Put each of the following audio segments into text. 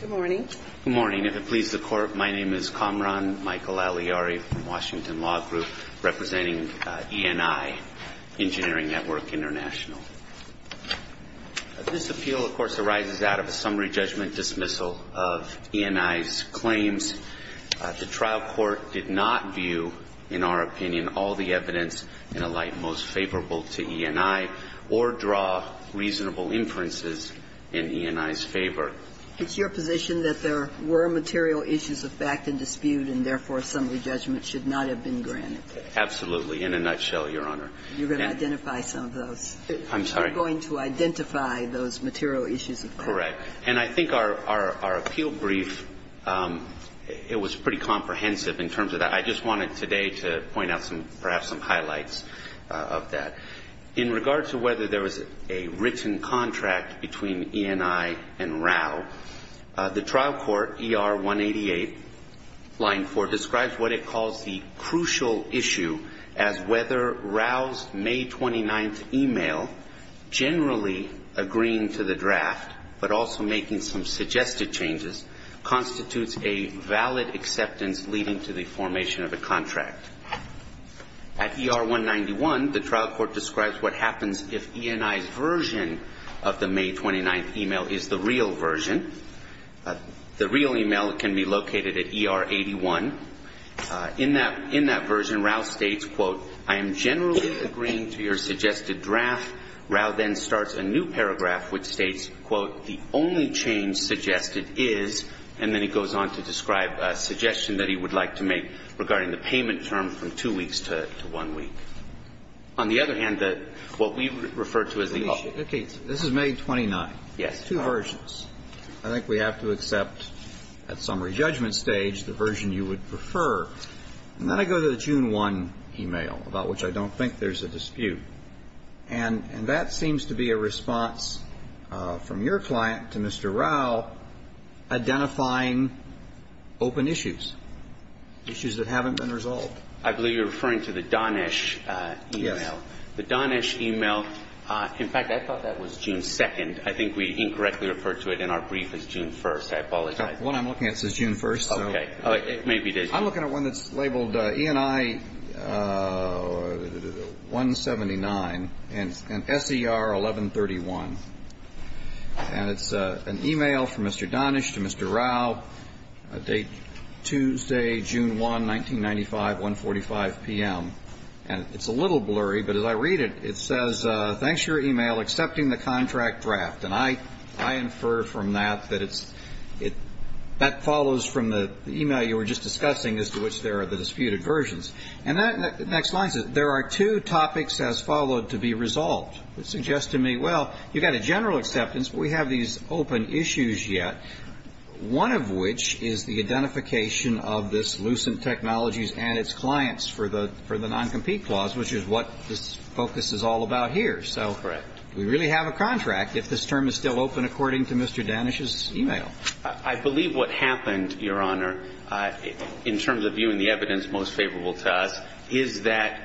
Good morning. Good morning. If it pleases the Court, my name is Kamran Michael Alyari from Washington Law Group representing ENI, Engineering Network International. This appeal, of course, arises out of a summary judgment dismissal of ENI's claims. The trial court did not view, in our opinion, all the evidence in a light most favorable to ENI or draw reasonable inferences in ENI's favor. It's your position that there were material issues of fact and dispute and therefore a summary judgment should not have been granted? Absolutely, in a nutshell, Your Honor. You're going to identify some of those? I'm sorry? You're going to identify those material issues of fact? Correct. And I think our appeal brief, it was pretty comprehensive in terms of that. I just wanted today to point out perhaps some highlights of that. In regards to whether there was a written contract between ENI and RAU, the trial court, ER 188, line 4, describes what it calls the crucial issue as whether RAU's May 29th email, generally agreeing to the draft but also making some suggested changes, constitutes a valid acceptance leading to the formation of a contract. At ER 191, the trial court describes what happens if ENI's version of the May 29th email is the real version. The real email can be located at ER 81. In that version, RAU states, quote, I am generally agreeing to your suggested draft. RAU then starts a new paragraph which states, quote, the only change suggested is, and then he goes on to describe a suggestion that he would like to make regarding the payment term from two weeks to one week. On the other hand, what we refer to as the issue. Okay. This is May 29th. Yes. Two versions. I think we have to accept at summary judgment stage the version you would prefer. And then I go to the June 1 email, about which I don't think there's a dispute. And that seems to be a response from your client to Mr. RAU identifying open issues. Issues that haven't been resolved. I believe you're referring to the Donish email. Yes. The Donish email, in fact, I thought that was June 2nd. I think we incorrectly referred to it in our brief as June 1st. I apologize. The one I'm looking at says June 1st. Okay. Maybe it is. I'm looking at one that's labeled ENI 179 and SER 1131. And it's an email from Mr. Donish to Mr. RAU, a date Tuesday, June 1, 1995, 145 p.m. And it's a little blurry, but as I read it, it says, thanks for your email, accepting the contract draft. And I infer from that that it's – that follows from the email you were just discussing, as to which there are the disputed versions. And that next line says, there are two topics as followed to be resolved. It suggests to me, well, you've got a general acceptance, but we have these open issues yet, one of which is the identification of this lucent technologies and its clients for the non-compete clause, which is what this focus is all about here. Correct. Do we really have a contract if this term is still open, according to Mr. Donish's email? I believe what happened, Your Honor, in terms of viewing the evidence most favorable to us, is that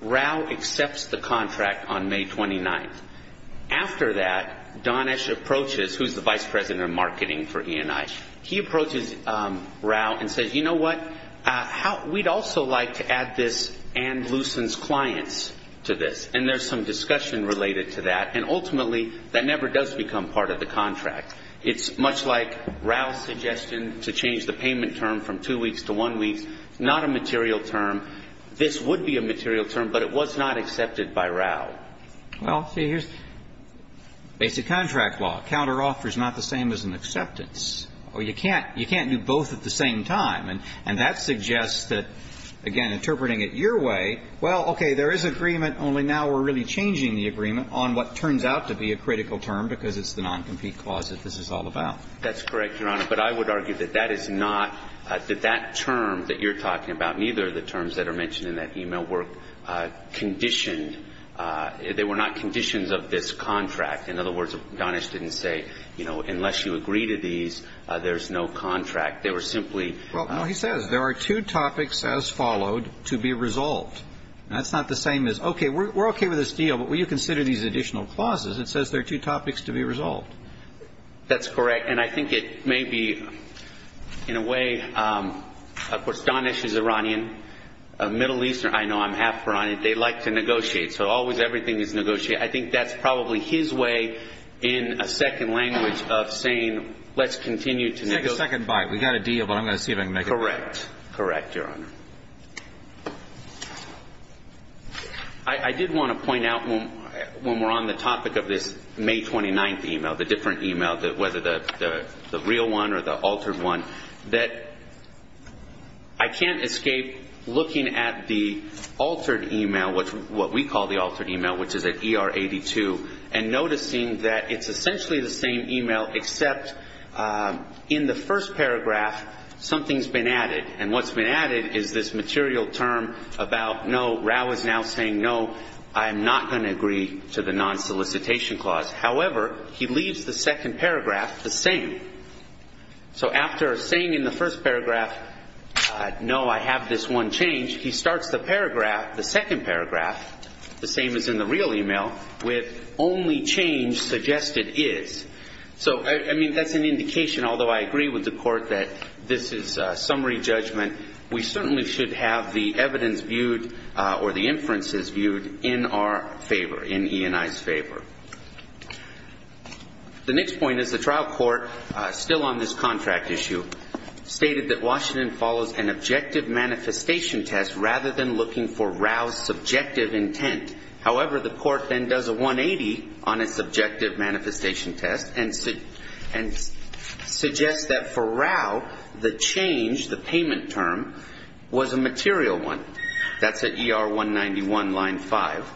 RAU accepts the contract on May 29th. After that, Donish approaches, who's the vice president of marketing for ENI, he approaches RAU and says, you know what, we'd also like to add this and lucent's clients to this. And there's some discussion related to that. And ultimately, that never does become part of the contract. It's much like RAU's suggestion to change the payment term from two weeks to one week. It's not a material term. This would be a material term, but it was not accepted by RAU. Well, see, here's basic contract law. Counteroffer is not the same as an acceptance. Or you can't do both at the same time. And that suggests that, again, interpreting it your way, well, okay, there is agreement, only now we're really changing the agreement on what turns out to be a critical term because it's the non-compete clause that this is all about. That's correct, Your Honor. But I would argue that that is not, that that term that you're talking about, neither of the terms that are mentioned in that email were conditioned, they were not conditions of this contract. In other words, Donish didn't say, you know, unless you agree to these, there's no contract. They were simply. Well, no, he says there are two topics as followed to be resolved. And that's not the same as, okay, we're okay with this deal, but will you consider these additional clauses? It says there are two topics to be resolved. That's correct. And I think it may be in a way, of course, Donish is Iranian. Middle Eastern, I know, I'm half Iranian. They like to negotiate. So always everything is negotiated. I think that's probably his way in a second language of saying let's continue to negotiate. Let's take a second bite. We've got a deal, but I'm going to see if I can make it. Correct. Correct, Your Honor. I did want to point out when we're on the topic of this May 29th email, the different email, whether the real one or the altered one, that I can't escape looking at the altered email, what we call the altered email, which is an ER82, and noticing that it's essentially the same email except in the first paragraph something's been added. And what's been added is this material term about, no, Rao is now saying, no, I'm not going to agree to the non-solicitation clause. However, he leaves the second paragraph the same. So after saying in the first paragraph, no, I have this one change, he starts the paragraph, the second paragraph, the same as in the real email, with only change suggested is. So, I mean, that's an indication, although I agree with the Court, that this is summary judgment, we certainly should have the evidence viewed or the inferences viewed in our favor, in E&I's favor. The next point is the trial court, still on this contract issue, stated that Washington follows an objective manifestation test rather than looking for Rao's subjective intent. However, the court then does a 180 on a subjective manifestation test and suggests that for Rao, the change, the payment term, was a material one. That's at ER191, line 5.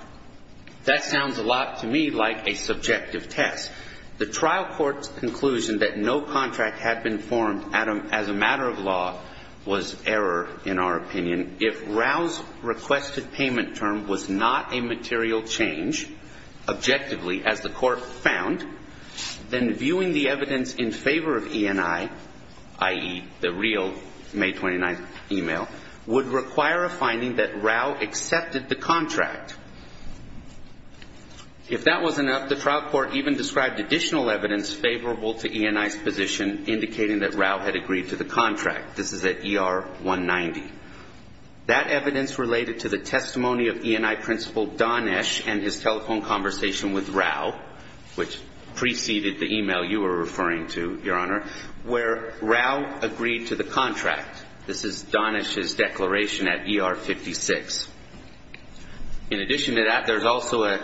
That sounds a lot to me like a subjective test. The trial court's conclusion that no contract had been formed as a matter of law was error in our opinion. If Rao's requested payment term was not a material change, objectively, as the court found, then viewing the evidence in favor of E&I, i.e., the real May 29th email, would require a finding that Rao accepted the contract. If that was enough, the trial court even described additional evidence favorable to E&I's position indicating that Rao had agreed to the contract. This is at ER190. That evidence related to the testimony of E&I principal Don Esch and his telephone conversation with Rao, which preceded the email you were referring to, Your Honor, where Rao agreed to the contract. This is Don Esch's declaration at ER56. In addition to that, there's also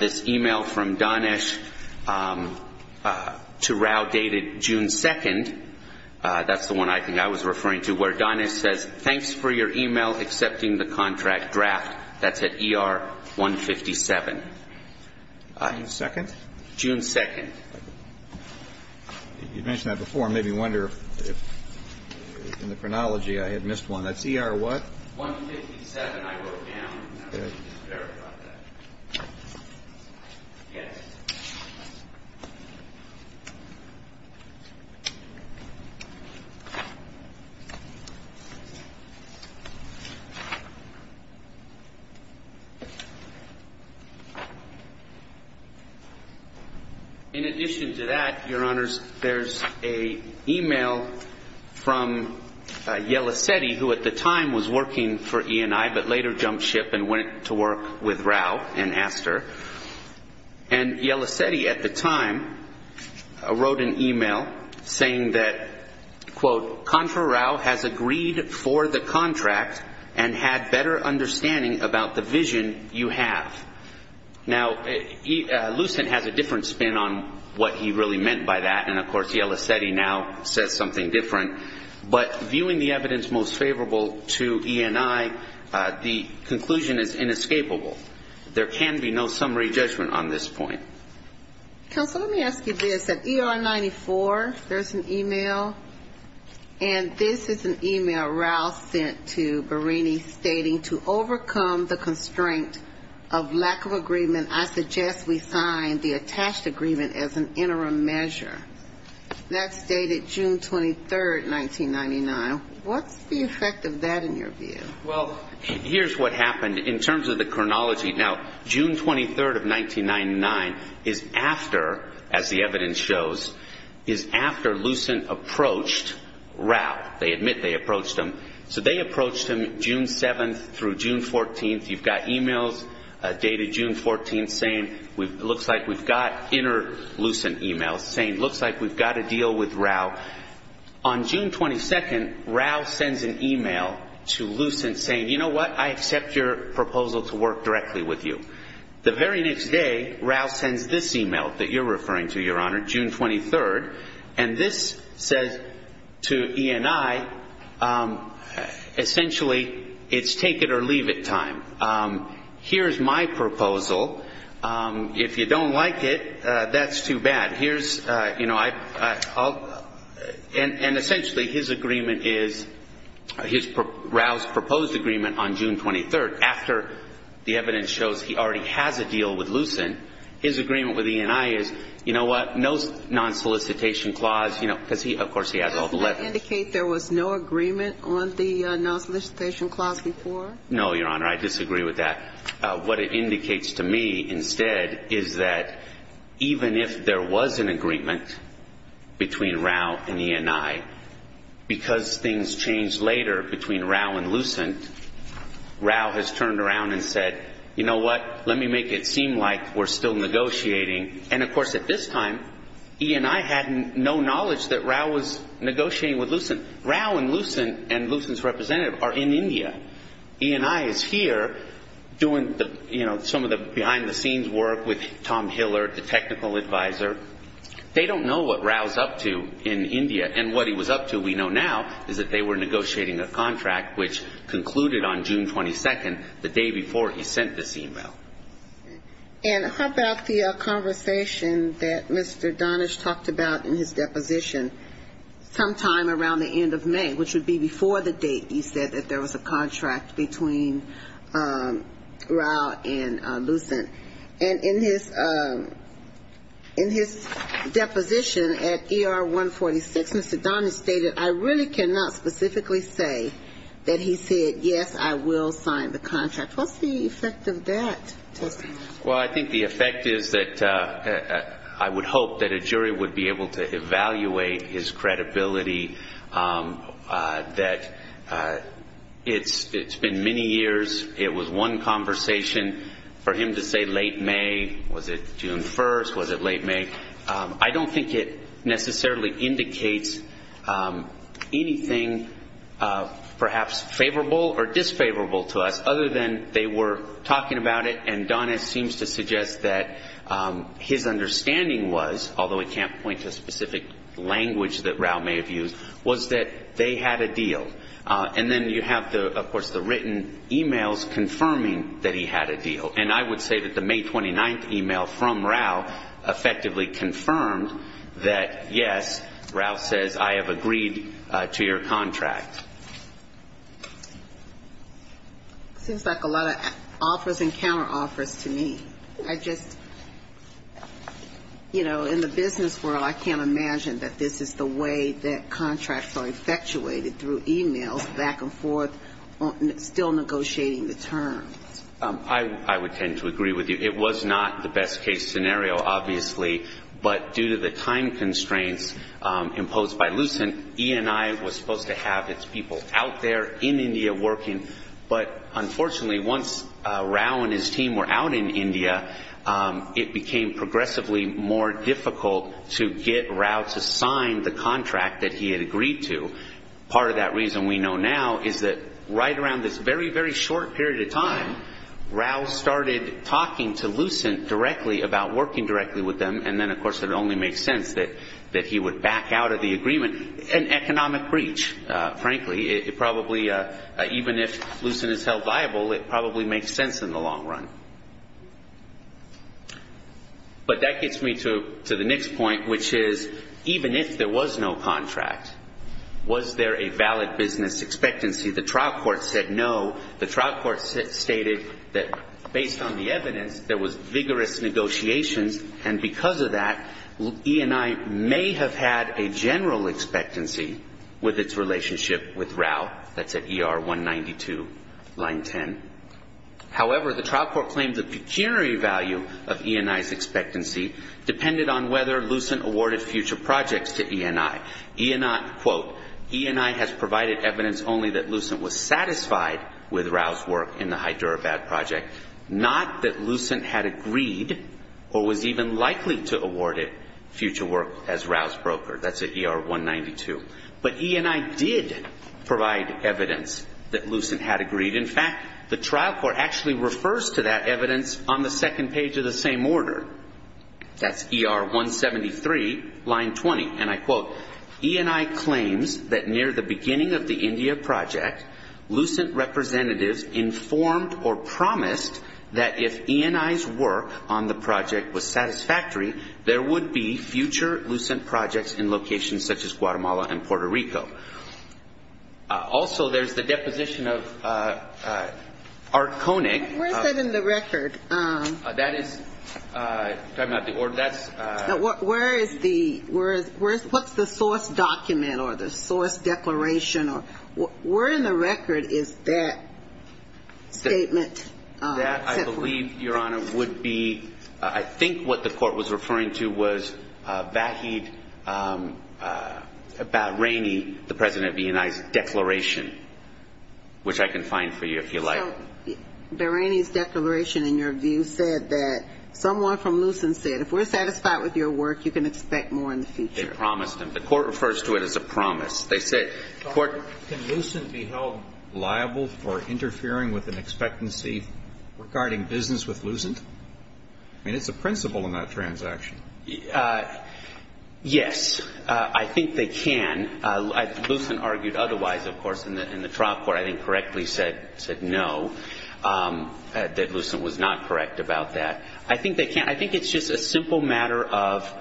this email from Don Esch to Rao dated June 2nd. That's the one I think I was referring to, where Don Esch says, Thanks for your email accepting the contract draft. That's at ER157. June 2nd? June 2nd. You mentioned that before. It made me wonder if in the chronology I had missed one. That's ER what? 157, I wrote down. In addition to that, Your Honors, there's an email from Yelisetti, who at the time was working for E&I but later jumped ship and went on to work for E&I. That's at ER157. He went to work with Rao and asked her. Yelisetti at the time wrote an email saying that, Contra Rao has agreed for the contract and had better understanding about the vision you have. Lucent has a different spin on what he really meant by that. Of course, Yelisetti now says something different. But viewing the evidence most favorable to E&I, the conclusion is inescapable. There can be no summary judgment on this point. Counsel, let me ask you this. At ER94, there's an email, and this is an email Rao sent to Barini stating, To overcome the constraint of lack of agreement, I suggest we sign the attached agreement as an interim measure. That's dated June 23rd, 1999. What's the effect of that in your view? Well, here's what happened in terms of the chronology. Now, June 23rd of 1999 is after, as the evidence shows, is after Lucent approached Rao. They admit they approached him. So they approached him June 7th through June 14th. You've got emails dated June 14th saying, It looks like we've got inter-Lucent emails saying, It looks like we've got a deal with Rao. On June 22nd, Rao sends an email to Lucent saying, You know what? I accept your proposal to work directly with you. The very next day, Rao sends this email that you're referring to, Your Honor, June 23rd. And this says to E&I, Essentially, it's take it or leave it time. Here's my proposal. If you don't like it, that's too bad. Here's, you know, I'll, and essentially, his agreement is, Rao's proposed agreement on June 23rd. After the evidence shows he already has a deal with Lucent, his agreement with E&I is, You know what? No non-solicitation clause. You know, because he, of course, he has all the letters. Does that indicate there was no agreement on the non-solicitation clause before? No, Your Honor. I disagree with that. What it indicates to me instead is that even if there was an agreement between Rao and E&I, because things changed later between Rao and Lucent, Rao has turned around and said, You know what? Let me make it seem like we're still negotiating. And, of course, at this time, E&I had no knowledge that Rao was negotiating with Lucent. Rao and Lucent and Lucent's representative are in India. E&I is here doing the, you know, some of the behind-the-scenes work with Tom Hiller, the technical advisor. They don't know what Rao's up to in India. And what he was up to, we know now, is that they were negotiating a contract, which concluded on June 22nd, the day before he sent this e-mail. And how about the conversation that Mr. Donish talked about in his deposition sometime around the end of May, which would be before the date you said that there was a contract between Rao and Lucent? And in his deposition at ER 146, Mr. Donish stated, I really cannot specifically say that he said, Yes, I will sign the contract. What's the effect of that testimony? Well, I think the effect is that I would hope that a jury would be able to evaluate his credibility, that it's been many years. It was one conversation for him to say late May. Was it June 1st? Was it late May? I don't think it necessarily indicates anything perhaps favorable or disfavorable to us, other than they were talking about it, and Donish seems to suggest that his understanding was, although I can't point to a specific language that Rao may have used, was that they had a deal. And then you have, of course, the written e-mails confirming that he had a deal. And I would say that the May 29th e-mail from Rao effectively confirmed that, yes, Rao says, I have agreed to your contract. It seems like a lot of offers and counter-offers to me. I just, you know, in the business world, I can't imagine that this is the way that contracts are effectuated through e-mails back and forth, still negotiating the terms. I would tend to agree with you. It was not the best case scenario, obviously, but due to the time constraints imposed by Lucent, E&I was supposed to have its people out there in India working, but unfortunately once Rao and his team were out in India, it became progressively more difficult to get Rao to sign the contract that he had agreed to. Part of that reason we know now is that right around this very, very short period of time, Rao started talking to Lucent directly about working directly with them, and then of course it only makes sense that he would back out of the agreement. An economic breach, frankly. It probably, even if Lucent is held viable, it probably makes sense in the long run. But that gets me to the next point, which is even if there was no contract, was there a valid business expectancy? The trial court said no. The trial court stated that based on the evidence, there was vigorous negotiations, and because of that, E&I may have had a general expectancy with its relationship with Rao. That's at ER 192, line 10. However, the trial court claimed the pecuniary value of E&I's expectancy depended on whether Lucent awarded future projects to E&I. E&I, quote, E&I has provided evidence only that Lucent was satisfied with Rao's work in the Hyderabad project, not that Lucent had agreed or was even likely to award it future work as Rao's broker. That's at ER 192. But E&I did provide evidence that Lucent had agreed. In fact, the trial court actually refers to that evidence on the second page of the same order. That's ER 173, line 20, and I quote, E&I claims that near the beginning of the India project, Lucent representatives informed or promised that if E&I's work on the project was satisfactory, there would be future Lucent projects in locations such as Guatemala and Puerto Rico. Also, there's the deposition of Arconeg. Where is that in the record? That is, talking about the order, that's. Where is the, where is, what's the source document or the source declaration or, where in the record is that statement? That, I believe, Your Honor, would be, I think what the court was referring to was the Vahid Bahraini, the president of E&I's declaration, which I can find for you if you like. Bahraini's declaration, in your view, said that someone from Lucent said, if we're satisfied with your work, you can expect more in the future. They promised him. The court refers to it as a promise. They said, the court. Can Lucent be held liable for interfering with an expectancy regarding business with Lucent? I mean, it's a principle in that transaction. Yes. I think they can. Lucent argued otherwise, of course, in the trial court. I think correctly said no, that Lucent was not correct about that. I think they can. I think it's just a simple matter of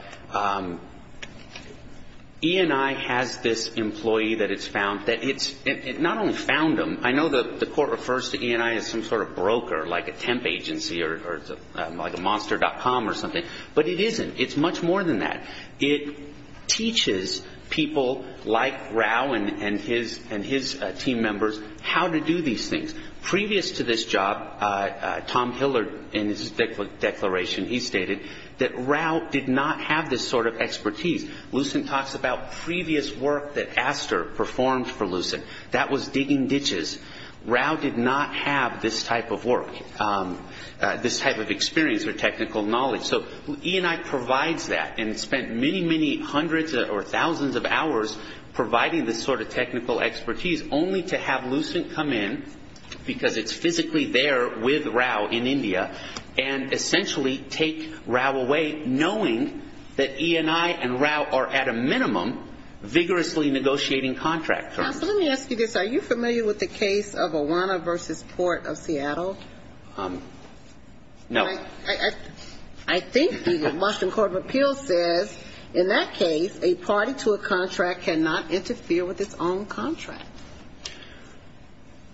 E&I has this employee that it's found, that it's not only found him. I know the court refers to E&I as some sort of broker, like a temp agency or like a monster.com or something. But it isn't. It's much more than that. It teaches people like Rao and his team members how to do these things. Previous to this job, Tom Hillard, in his declaration, he stated that Rao did not have this sort of expertise. Lucent talks about previous work that Aster performed for Lucent. That was digging ditches. Rao did not have this type of work, this type of experience or technical knowledge. So E&I provides that and spent many, many hundreds or thousands of hours providing this sort of technical expertise, only to have Lucent come in, because it's physically there with Rao in India, and essentially take Rao away knowing that E&I and Rao are at a minimum vigorously negotiating contract terms. Counsel, let me ask you this. Are you familiar with the case of Awana v. Port of Seattle? No. I think the Washington Court of Appeals says in that case a party to a contract cannot interfere with its own contract.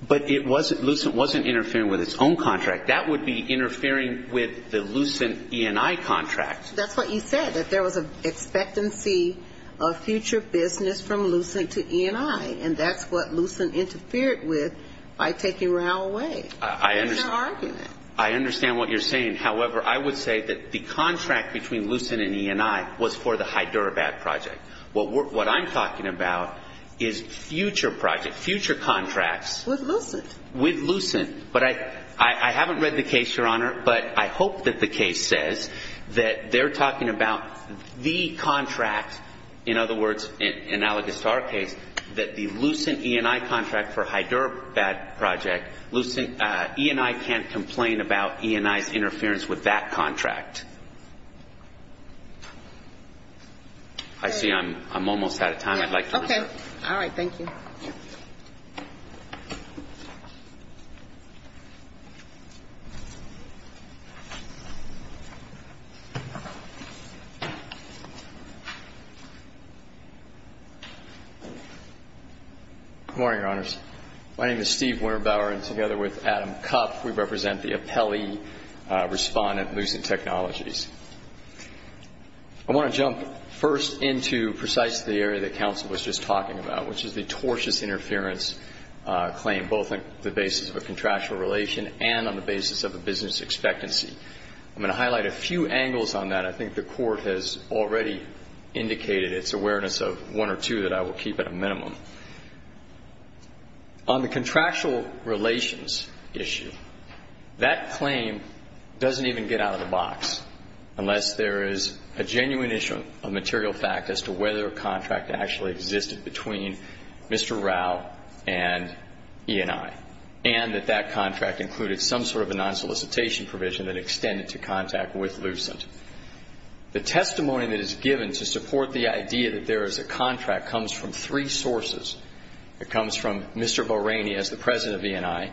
But Lucent wasn't interfering with its own contract. That would be interfering with the Lucent E&I contract. That's what you said, that there was an expectancy of future business from Lucent to E&I, and that's what Lucent interfered with by taking Rao away. That's our argument. I understand what you're saying. However, I would say that the contract between Lucent and E&I was for the Hyderabad project. What I'm talking about is future projects, future contracts. With Lucent. With Lucent. But I haven't read the case, Your Honor, but I hope that the case says that they're talking about the contract, in other words, analogous to our case, that the Lucent E&I contract for Hyderabad project, Lucent E&I can't complain about E&I's interference with that contract. I see I'm almost out of time. I'd like to move on. Okay. All right. Thank you. Good morning, Your Honors. My name is Steve Winterbauer, and together with Adam Kopp, we represent the appellee respondent, Lucent Technologies. I want to jump first into precisely the area that counsel was just talking about, which is the tortious interference claim, both on the basis of a contractual relation and on the basis of a business expectancy. I'm going to highlight a few angles on that. I think the Court has already indicated its awareness of one or two that I will keep at a minimum. On the contractual relations issue, that claim doesn't even get out of the box unless there is a genuine issue of material fact as to whether a contract actually existed between Mr. Rao and E&I and that that contract included some sort of a non-solicitation provision that extended to contact with Lucent. The testimony that is given to support the idea that there is a contract comes from three sources. It comes from Mr. Bahraini as the president of E&I.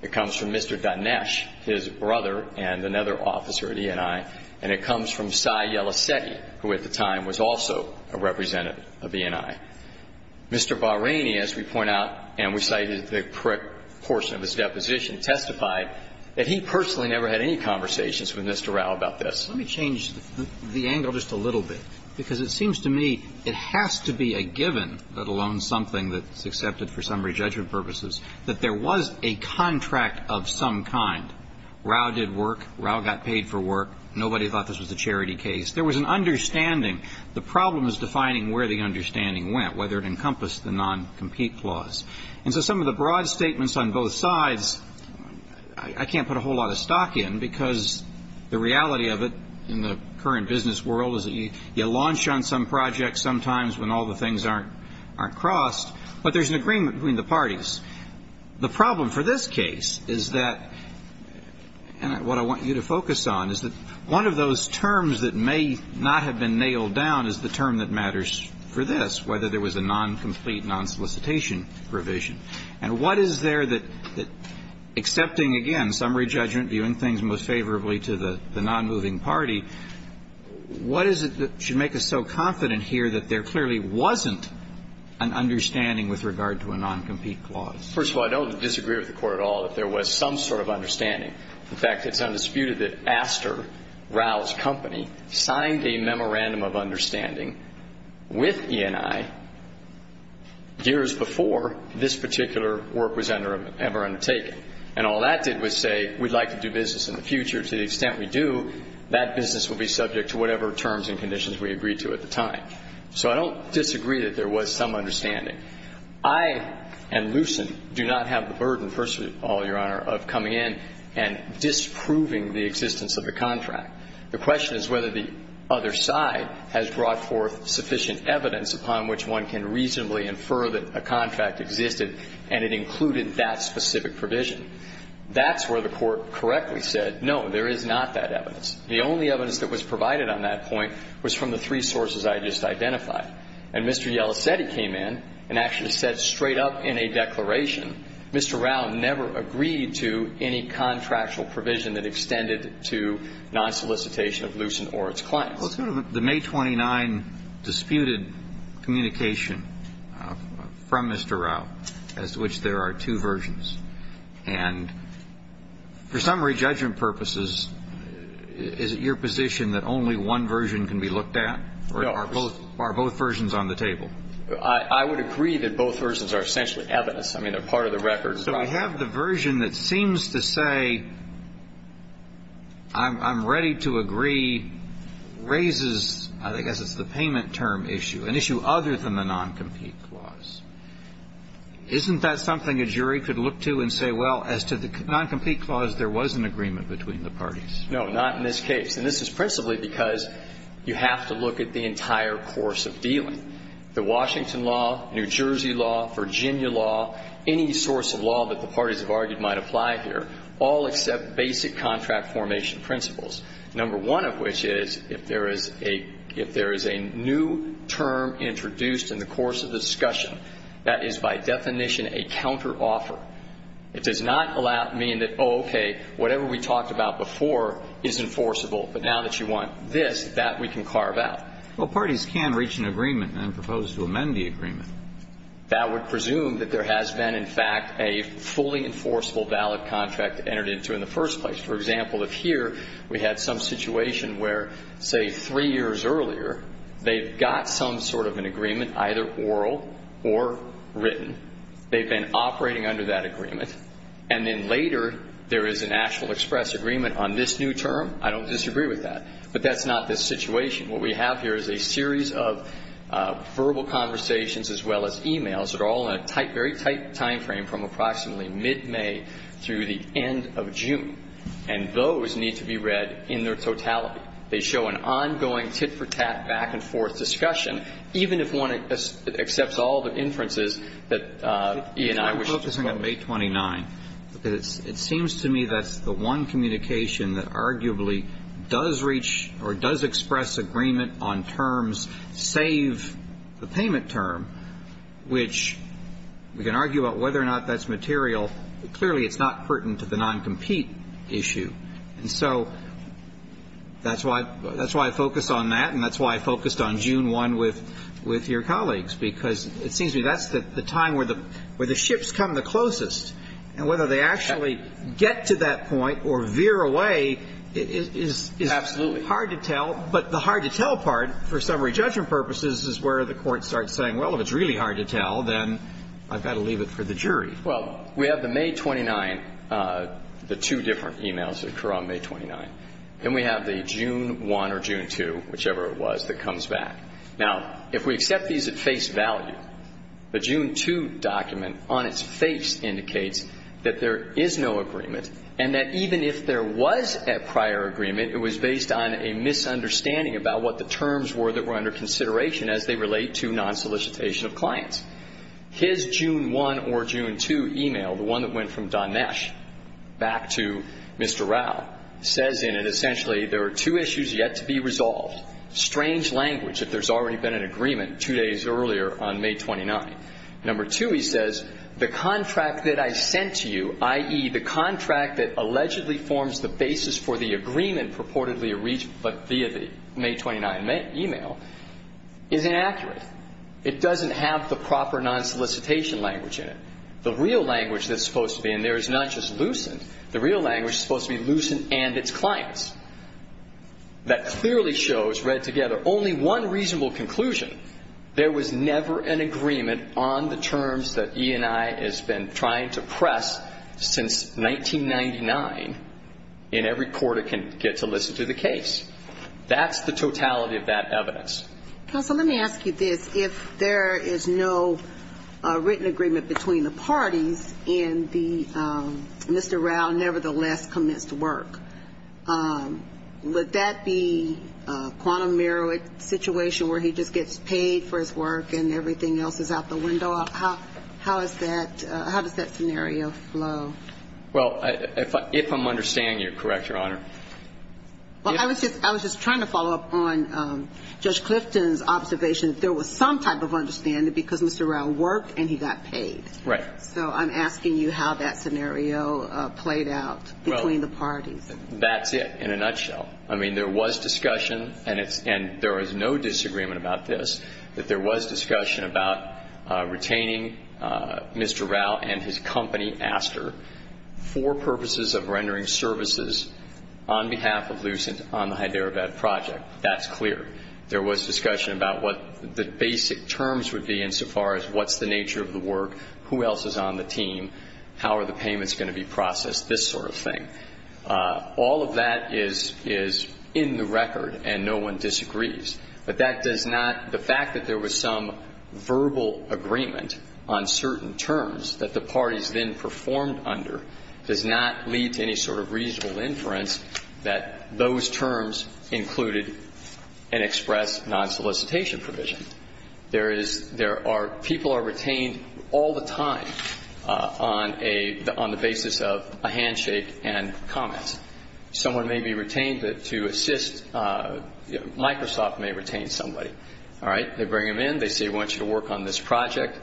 It comes from Mr. Dinesh, his brother and another officer at E&I, and it comes from Sai Yelasseti, who at the time was also a representative of E&I. Mr. Bahraini, as we point out, and we cited the correct portion of his deposition, testified that he personally never had any conversations with Mr. Rao about this. Let me change the angle just a little bit, because it seems to me it has to be a given, let alone something that's accepted for summary judgment purposes, that there was a contract of some kind. Rao did work. Rao got paid for work. Nobody thought this was a charity case. There was an understanding. The problem is defining where the understanding went, whether it encompassed the non-compete clause. And so some of the broad statements on both sides, I can't put a whole lot of stock in, because the reality of it in the current business world is that you launch on some projects sometimes when all the things aren't crossed, but there's an agreement between the parties. The problem for this case is that, and what I want you to focus on, is that one of those terms that may not have been nailed down is the term that matters for this, whether there was a non-complete, non-solicitation provision. And what is there that, accepting, again, summary judgment, viewing things most favorably to the non-moving party, what is it that should make us so confident here that there clearly wasn't an understanding with regard to a non-compete clause? First of all, I don't disagree with the Court at all that there was some sort of understanding. In fact, it's undisputed that Astor, Rao's company, signed a memorandum of understanding with E&I years before this particular work was ever undertaken. And all that did was say, we'd like to do business in the future. To the extent we do, that business will be subject to whatever terms and conditions we agreed to at the time. So I don't disagree that there was some understanding. I and Lucent do not have the burden, First of all, Your Honor, of coming in and disproving the existence of the contract. The question is whether the other side has brought forth sufficient evidence upon which one can reasonably infer that a contract existed and it included that specific provision. That's where the Court correctly said, no, there is not that evidence. The only evidence that was provided on that point was from the three sources I just identified. And Mr. Yella said he came in and actually said straight up in a declaration, Mr. Rao never agreed to any contractual provision that extended to non-solicitation of Lucent or its clients. Well, sort of the May 29 disputed communication from Mr. Rao as to which there are two versions. And for summary judgment purposes, is it your position that only one version can be looked at? No. Are both versions on the table? I would agree that both versions are essentially evidence. I mean, they're part of the record. But I have the version that seems to say, I'm ready to agree, raises, I guess it's the payment term issue, an issue other than the non-compete clause. Isn't that something a jury could look to and say, well, as to the non-compete clause, there was an agreement between the parties? No, not in this case. And this is principally because you have to look at the entire course of dealing. The Washington law, New Jersey law, Virginia law, any source of law that the parties have argued might apply here, all accept basic contract formation principles, number one of which is if there is a new term introduced in the course of the discussion, that is by definition a counteroffer. It does not mean that, oh, okay, whatever we talked about before is enforceable, but now that you want this, that we can carve out. Well, parties can reach an agreement and propose to amend the agreement. That would presume that there has been, in fact, a fully enforceable valid contract entered into in the first place. For example, if here we had some situation where, say, three years earlier, they've got some sort of an agreement, either oral or written, they've been operating under that agreement, and then later there is a national express agreement on this new term, I don't disagree with that. But that's not this situation. What we have here is a series of verbal conversations as well as e-mails that are all in a tight, very tight time frame from approximately mid-May through the end of June. And those need to be read in their totality. They show an ongoing tit-for-tat, back-and-forth discussion, even if one accepts all the inferences that E&I wishes to focus on. I'm focusing on May 29. It seems to me that's the one communication that arguably does reach or does express agreement on terms, save the payment term, which we can argue about whether or not that's material. Clearly, it's not pertinent to the non-compete issue. And so that's why I focus on that, and that's why I focused on June 1 with your colleagues, because it seems to me that's the time where the ships come the closest. And whether they actually get to that point or veer away is hard to tell. Absolutely. But the hard-to-tell part, for summary judgment purposes, is where the Court starts saying, well, if it's really hard to tell, then I've got to leave it for the jury. Well, we have the May 29, the two different e-mails that occur on May 29. Then we have the June 1 or June 2, whichever it was, that comes back. Now, if we accept these at face value, the June 2 document on its face indicates that there is no agreement and that even if there was a prior agreement, it was based on a misunderstanding about what the terms were that were under consideration as they relate to non-solicitation of clients. His June 1 or June 2 e-mail, the one that went from Donesh back to Mr. Rao, says in it, essentially, there are two issues yet to be resolved. First, strange language, that there's already been an agreement two days earlier on May 29. Number two, he says, the contract that I sent to you, i.e., the contract that allegedly forms the basis for the agreement purportedly reached via the May 29 e-mail, is inaccurate. It doesn't have the proper non-solicitation language in it. The real language that's supposed to be in there is not just Lucent. The real language is supposed to be Lucent and its clients. That clearly shows, read together, only one reasonable conclusion. There was never an agreement on the terms that E&I has been trying to press since 1999, and every court can get to listen to the case. That's the totality of that evidence. Counsel, let me ask you this. If there is no written agreement between the parties and the Mr. Rao nevertheless commits to work, would that be a quantum merit situation where he just gets paid for his work and everything else is out the window? How does that scenario flow? Well, if I'm understanding you correctly, Your Honor. Well, I was just trying to follow up on Judge Clifton's observation. There was some type of understanding because Mr. Rao worked and he got paid. Right. So I'm asking you how that scenario played out between the parties. That's it, in a nutshell. I mean, there was discussion, and there is no disagreement about this, that there was discussion about retaining Mr. Rao and his company, Aster, for purposes of rendering services on behalf of Lucent on the Hyderabad project. That's clear. There was discussion about what the basic terms would be insofar as what's the nature of the work, who else is on the team, how are the payments going to be processed, this sort of thing. All of that is in the record, and no one disagrees. But that does not the fact that there was some verbal agreement on certain terms that the parties then performed under does not lead to any sort of reasonable inference that those terms included an express non-solicitation provision. People are retained all the time on the basis of a handshake and comments. Someone may be retained to assist. Microsoft may retain somebody. All right. They bring them in. They say we want you to work on this project,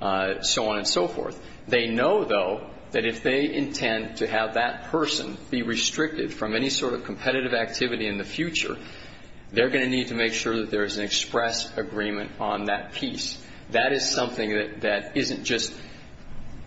so on and so forth. They know, though, that if they intend to have that person be restricted from any sort of competitive activity in the future, they're going to need to make sure that there is an express agreement on that piece. That is something that isn't just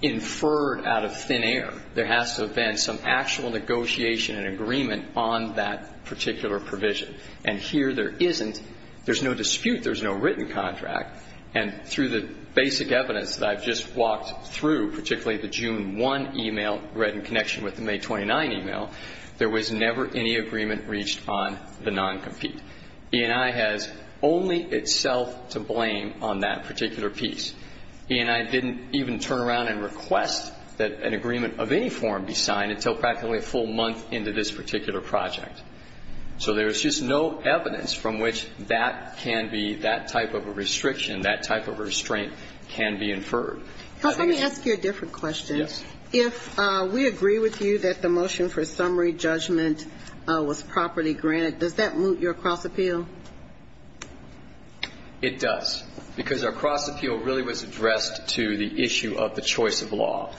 inferred out of thin air. There has to have been some actual negotiation and agreement on that particular provision. And here there isn't. There's no dispute. There's no written contract. And through the basic evidence that I've just walked through, particularly the June 1 email read in connection with the May 29 email, there was never any agreement reached on the non-compete. E&I has only itself to blame on that particular piece. E&I didn't even turn around and request that an agreement of any form be signed until practically a full month into this particular project. So there is just no evidence from which that can be that type of a restriction, that type of a restraint can be inferred. Let me ask you a different question. Yes. If we agree with you that the motion for summary judgment was properly granted, does that moot your cross-appeal? It does. Because our cross-appeal really was addressed to the issue of the choice of law.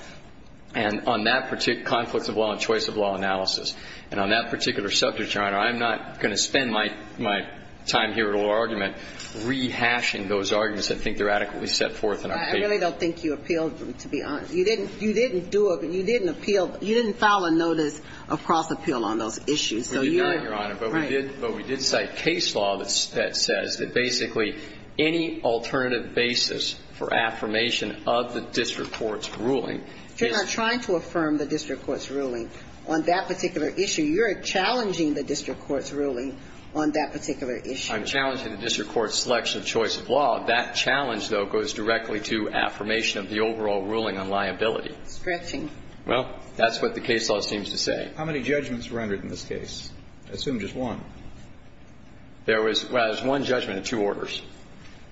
And on that conflict of law and choice of law analysis, and on that particular subject, Your Honor, I'm not going to spend my time here at oral argument rehashing those arguments that I think are adequately set forth in our case. I really don't think you appealed, to be honest. You didn't do a ñ you didn't appeal ñ you didn't file a notice of cross-appeal on those issues. And so you're ñ We did, Your Honor. Right. But we did cite case law that says that basically any alternative basis for affirmation of the district court's ruling is ñ You're not trying to affirm the district court's ruling on that particular issue. You're challenging the district court's ruling on that particular issue. I'm challenging the district court's selection of choice of law. That challenge, though, goes directly to affirmation of the overall ruling on liability. Stretching. Well, that's what the case law seems to say. How many judgments rendered in this case? I assume just one. There was ñ well, there was one judgment and two orders.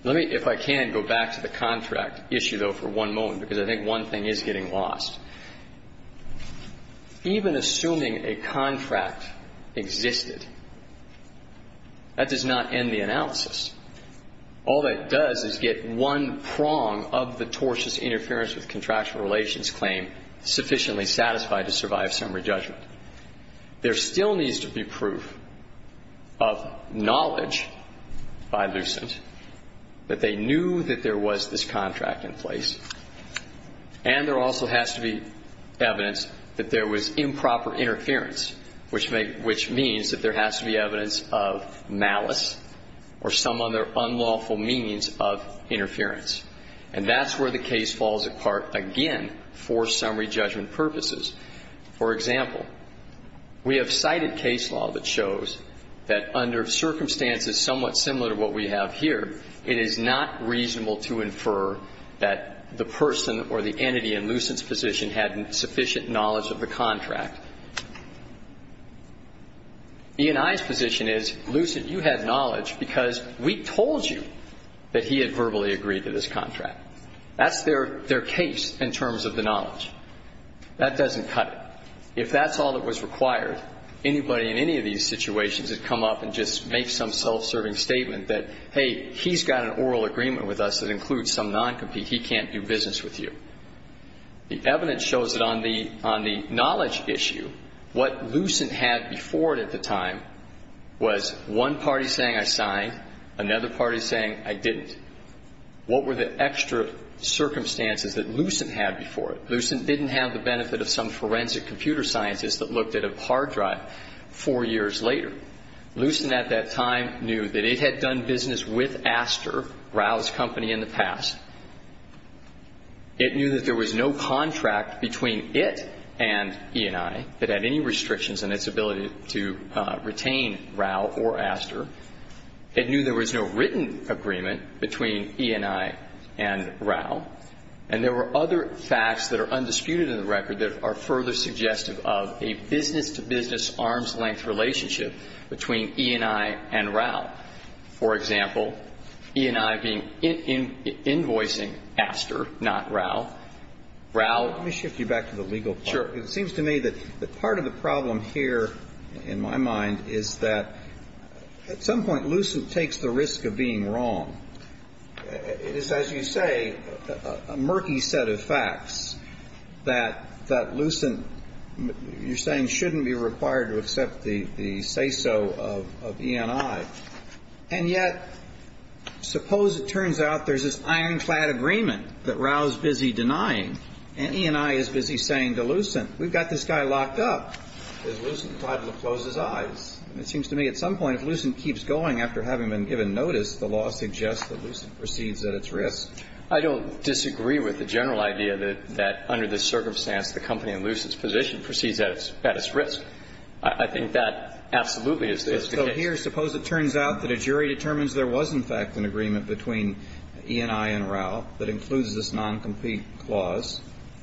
Let me, if I can, go back to the contract issue, though, for one moment, because I think one thing is getting lost. Even assuming a contract existed, that does not end the analysis. All that does is get one prong of the tortious interference with contractual relations claim sufficiently satisfied to survive summary judgment. There still needs to be proof of knowledge by Lucent that they knew that there was this contract in place, and there also has to be evidence that there was improper interference, which may ñ which means that there has to be evidence of malice or some other unlawful means of interference. And that's where the case falls apart again for summary judgment purposes. For example, we have cited case law that shows that under circumstances somewhat similar to what we have here, it is not reasonable to infer that the person or the entity in Lucent's position had sufficient knowledge of the contract. E&I's position is, Lucent, you had knowledge because we told you that he had verbally agreed to this contract. That's their case in terms of the knowledge. That doesn't cut it. If that's all that was required, anybody in any of these situations would come up and just make some self-serving statement that, hey, he's got an oral agreement with us that includes some noncompete. He can't do business with you. The evidence shows that on the ñ on the knowledge issue, what Lucent had before was one party saying I signed, another party saying I didn't. What were the extra circumstances that Lucent had before it? Lucent didn't have the benefit of some forensic computer scientist that looked at a hard drive four years later. Lucent at that time knew that it had done business with Aster, Raoul's company, in the past. It knew that there was no contract between it and E&I that had any restrictions on its ability to retain Raoul or Aster. It knew there was no written agreement between E&I and Raoul. And there were other facts that are undisputed in the record that are further suggestive of a business-to-business, arm's-length relationship between E&I and Raoul. For example, E&I being ñ invoicing Aster, not Raoul. Raoul ñ Let me shift you back to the legal part. Sure. It seems to me that part of the problem here, in my mind, is that at some point Lucent takes the risk of being wrong. It is, as you say, a murky set of facts that Lucent, you're saying, shouldn't be required to accept the say-so of E&I. And yet, suppose it turns out there's this ironclad agreement that Raoul's busy denying and E&I is busy saying to Lucent, we've got this guy locked up, because Lucent tried to close his eyes. It seems to me at some point, if Lucent keeps going after having been given notice, the law suggests that Lucent proceeds at its risk. I don't disagree with the general idea that under this circumstance, the company in Lucent's position proceeds at its risk. I think that absolutely is the case. So here, suppose it turns out that a jury determines there was in fact an agreement between E&I and Raoul that includes this noncompete clause.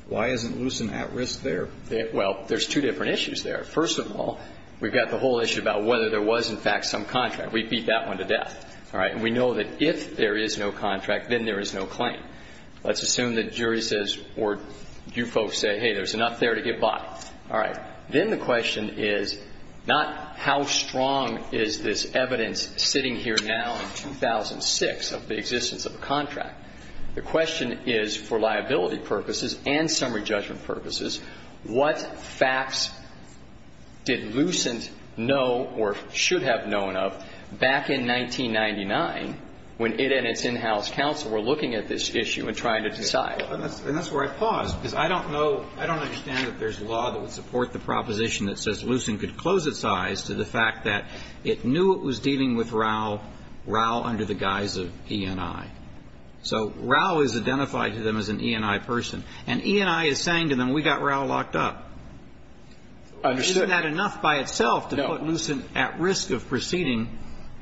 Why isn't Lucent at risk there? Well, there's two different issues there. First of all, we've got the whole issue about whether there was in fact some contract. We beat that one to death. All right. And we know that if there is no contract, then there is no claim. Let's assume the jury says, or you folks say, hey, there's enough there to get by. All right. Then the question is not how strong is this evidence sitting here now in 2006 of the existence of a contract. The question is for liability purposes and summary judgment purposes, what facts did Lucent know or should have known of back in 1999 when it and its in-house counsel were looking at this issue and trying to decide? And that's where I pause, because I don't know, I don't understand that there's a law that would support the proposition that says Lucent could close its eyes to the fact that it knew it was dealing with Raoul, Raoul under the guise of E&I. So Raoul is identified to them as an E&I person. And E&I is saying to them, we got Raoul locked up. Understood. Isn't that enough by itself to put Lucent at risk of proceeding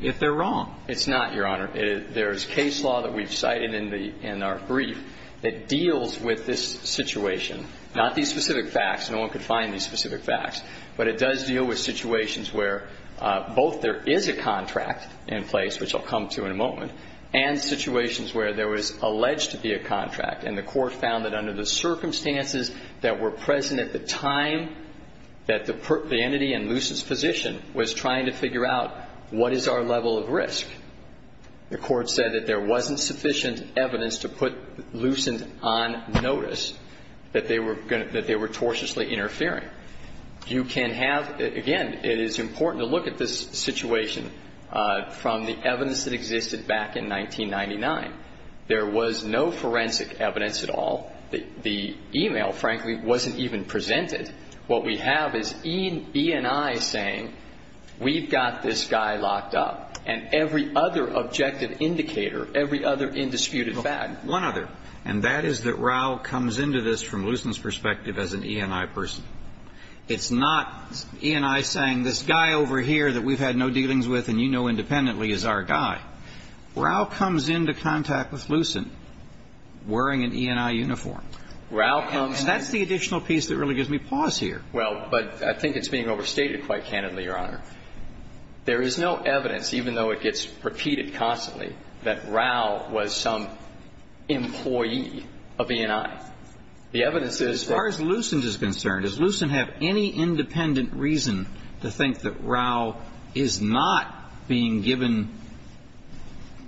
if they're wrong? It's not, Your Honor. There's case law that we've cited in the – in our brief that deals with this situation, not these specific facts. No one could find these specific facts. But it does deal with situations where both there is a contract in place, which I'll come to in a moment, and situations where there was alleged to be a contract. And the Court found that under the circumstances that were present at the time that the entity in Lucent's position was trying to figure out what is our level of risk, the Court said that there wasn't sufficient evidence to put Lucent on notice that they were – that they were tortiously interfering. You can have – again, it is important to look at this situation from the evidence that existed back in 1999. There was no forensic evidence at all. The e-mail, frankly, wasn't even presented. What we have is E&I saying, we've got this guy locked up. And every other objective indicator, every other indisputed fact. One other. And that is that Rao comes into this from Lucent's perspective as an E&I person. It's not E&I saying, this guy over here that we've had no dealings with and you know independently is our guy. Rao comes into contact with Lucent wearing an E&I uniform. And that's the additional piece that really gives me pause here. Well, but I think it's being overstated quite candidly, Your Honor. There is no evidence, even though it gets repeated constantly, that Rao was some employee of E&I. The evidence is that – As far as Lucent is concerned, does Lucent have any independent reason to think that Rao is not being given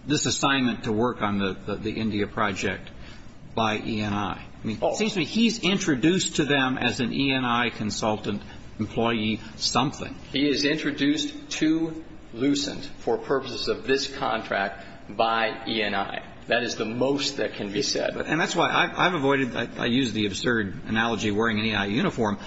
this assignment to work on the India project by E&I? It seems to me he's introduced to them as an E&I consultant employee something. He is introduced to Lucent for purposes of this contract by E&I. That is the most that can be said. And that's why I've avoided – I use the absurd analogy of wearing an E&I uniform.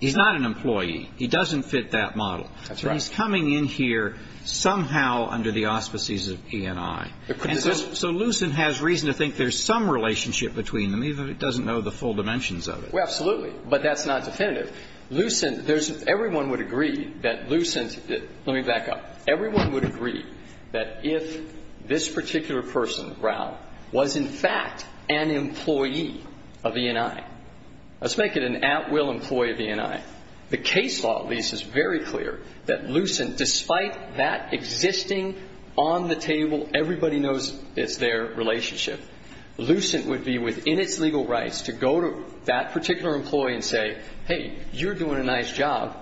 He's not an employee. He doesn't fit that model. That's right. So he's coming in here somehow under the auspices of E&I. And so Lucent has reason to think there's some relationship between them, even if he doesn't know the full dimensions of it. Well, absolutely. But that's not definitive. Everyone would agree that Lucent – let me back up. Everyone would agree that if this particular person, Rao, was, in fact, an employee of E&I – let's make it an at-will employee of E&I. The case law, at least, is very clear that Lucent, despite that existing, on-the-table, everybody-knows-it's-there relationship, Lucent would be within its You're doing a nice job.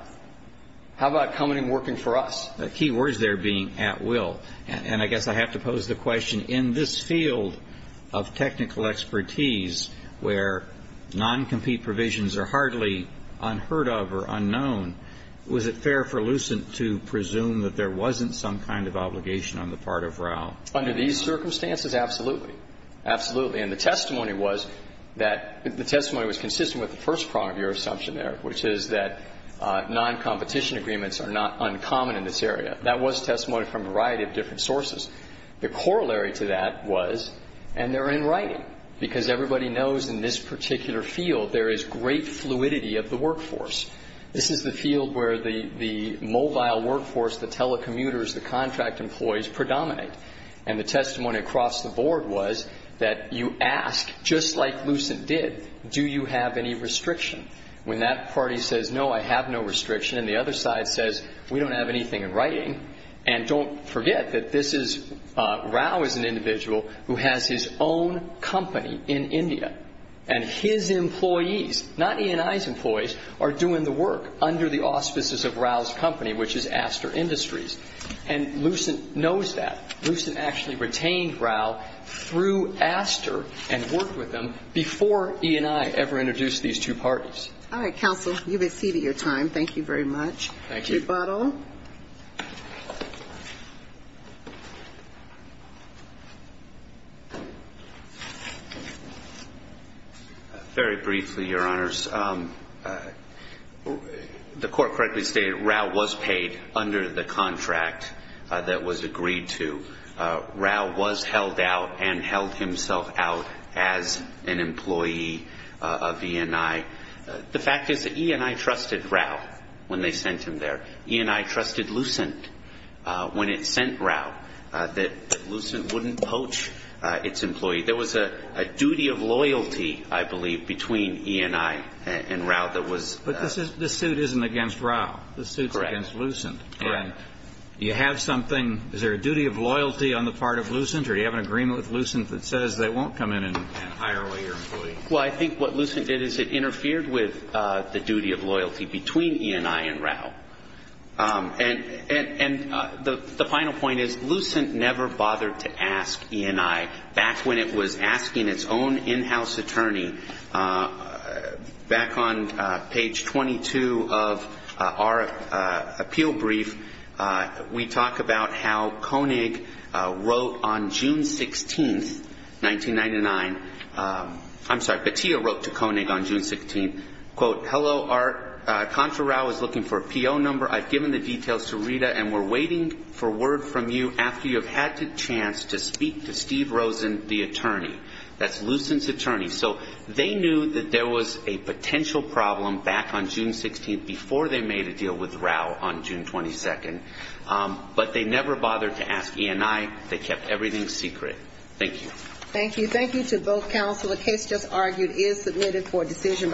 How about coming and working for us? Key words there being at-will. And I guess I have to pose the question, in this field of technical expertise, where noncompete provisions are hardly unheard of or unknown, was it fair for Lucent to presume that there wasn't some kind of obligation on the part of Rao? Under these circumstances, absolutely. Absolutely. And the testimony was that – the testimony was consistent with the first part of your assumption there, which is that noncompetition agreements are not uncommon in this area. That was testimony from a variety of different sources. The corollary to that was – and they're in writing, because everybody knows in this particular field there is great fluidity of the workforce. This is the field where the mobile workforce, the telecommuters, the contract employees predominate. And the testimony across the board was that you ask, just like Lucent did, do you have any restriction? When that party says, no, I have no restriction, and the other side says, we don't have anything in writing. And don't forget that this is – Rao is an individual who has his own company in India. And his employees, not E&I's employees, are doing the work under the auspices of Rao's company, which is Aster Industries. And Lucent knows that. Lucent actually retained Rao through Aster and worked with them before E&I ever introduced these two parties. All right, counsel. You've exceeded your time. Thank you very much. Thank you. Rebuttal. Very briefly, Your Honors. The court correctly stated Rao was paid under the contract that was agreed to. Rao was held out and held himself out as an employee of E&I. The fact is that E&I trusted Rao when they sent him there. E&I trusted Lucent when it sent Rao, that Lucent wouldn't poach its employee. There was a duty of loyalty, I believe, between E&I and Rao that was – But this suit isn't against Rao. This suit's against Lucent. Correct. And you have something – is there a duty of loyalty on the part of Lucent or do you have an agreement with Lucent that says they won't come in and hire away your employee? Well, I think what Lucent did is it interfered with the duty of loyalty between E&I and Rao. And the final point is Lucent never bothered to ask E&I, back when it was asking its own in-house attorney. Back on page 22 of our appeal brief, we talk about how Koenig wrote on June 16, 1999 – I'm sorry, Petillo wrote to Koenig on June 16, quote, Hello, Contra Rao is looking for a PO number. I've given the details to Rita and we're waiting for word from you after you have had the chance to speak to Steve Rosen, the attorney. That's Lucent's attorney. So they knew that there was a potential problem back on June 16 before they made a deal with Rao on June 22, but they never bothered to ask E&I. They kept everything secret. Thank you. Thank you. Thank you to both counsel. The case just argued is submitted for decision.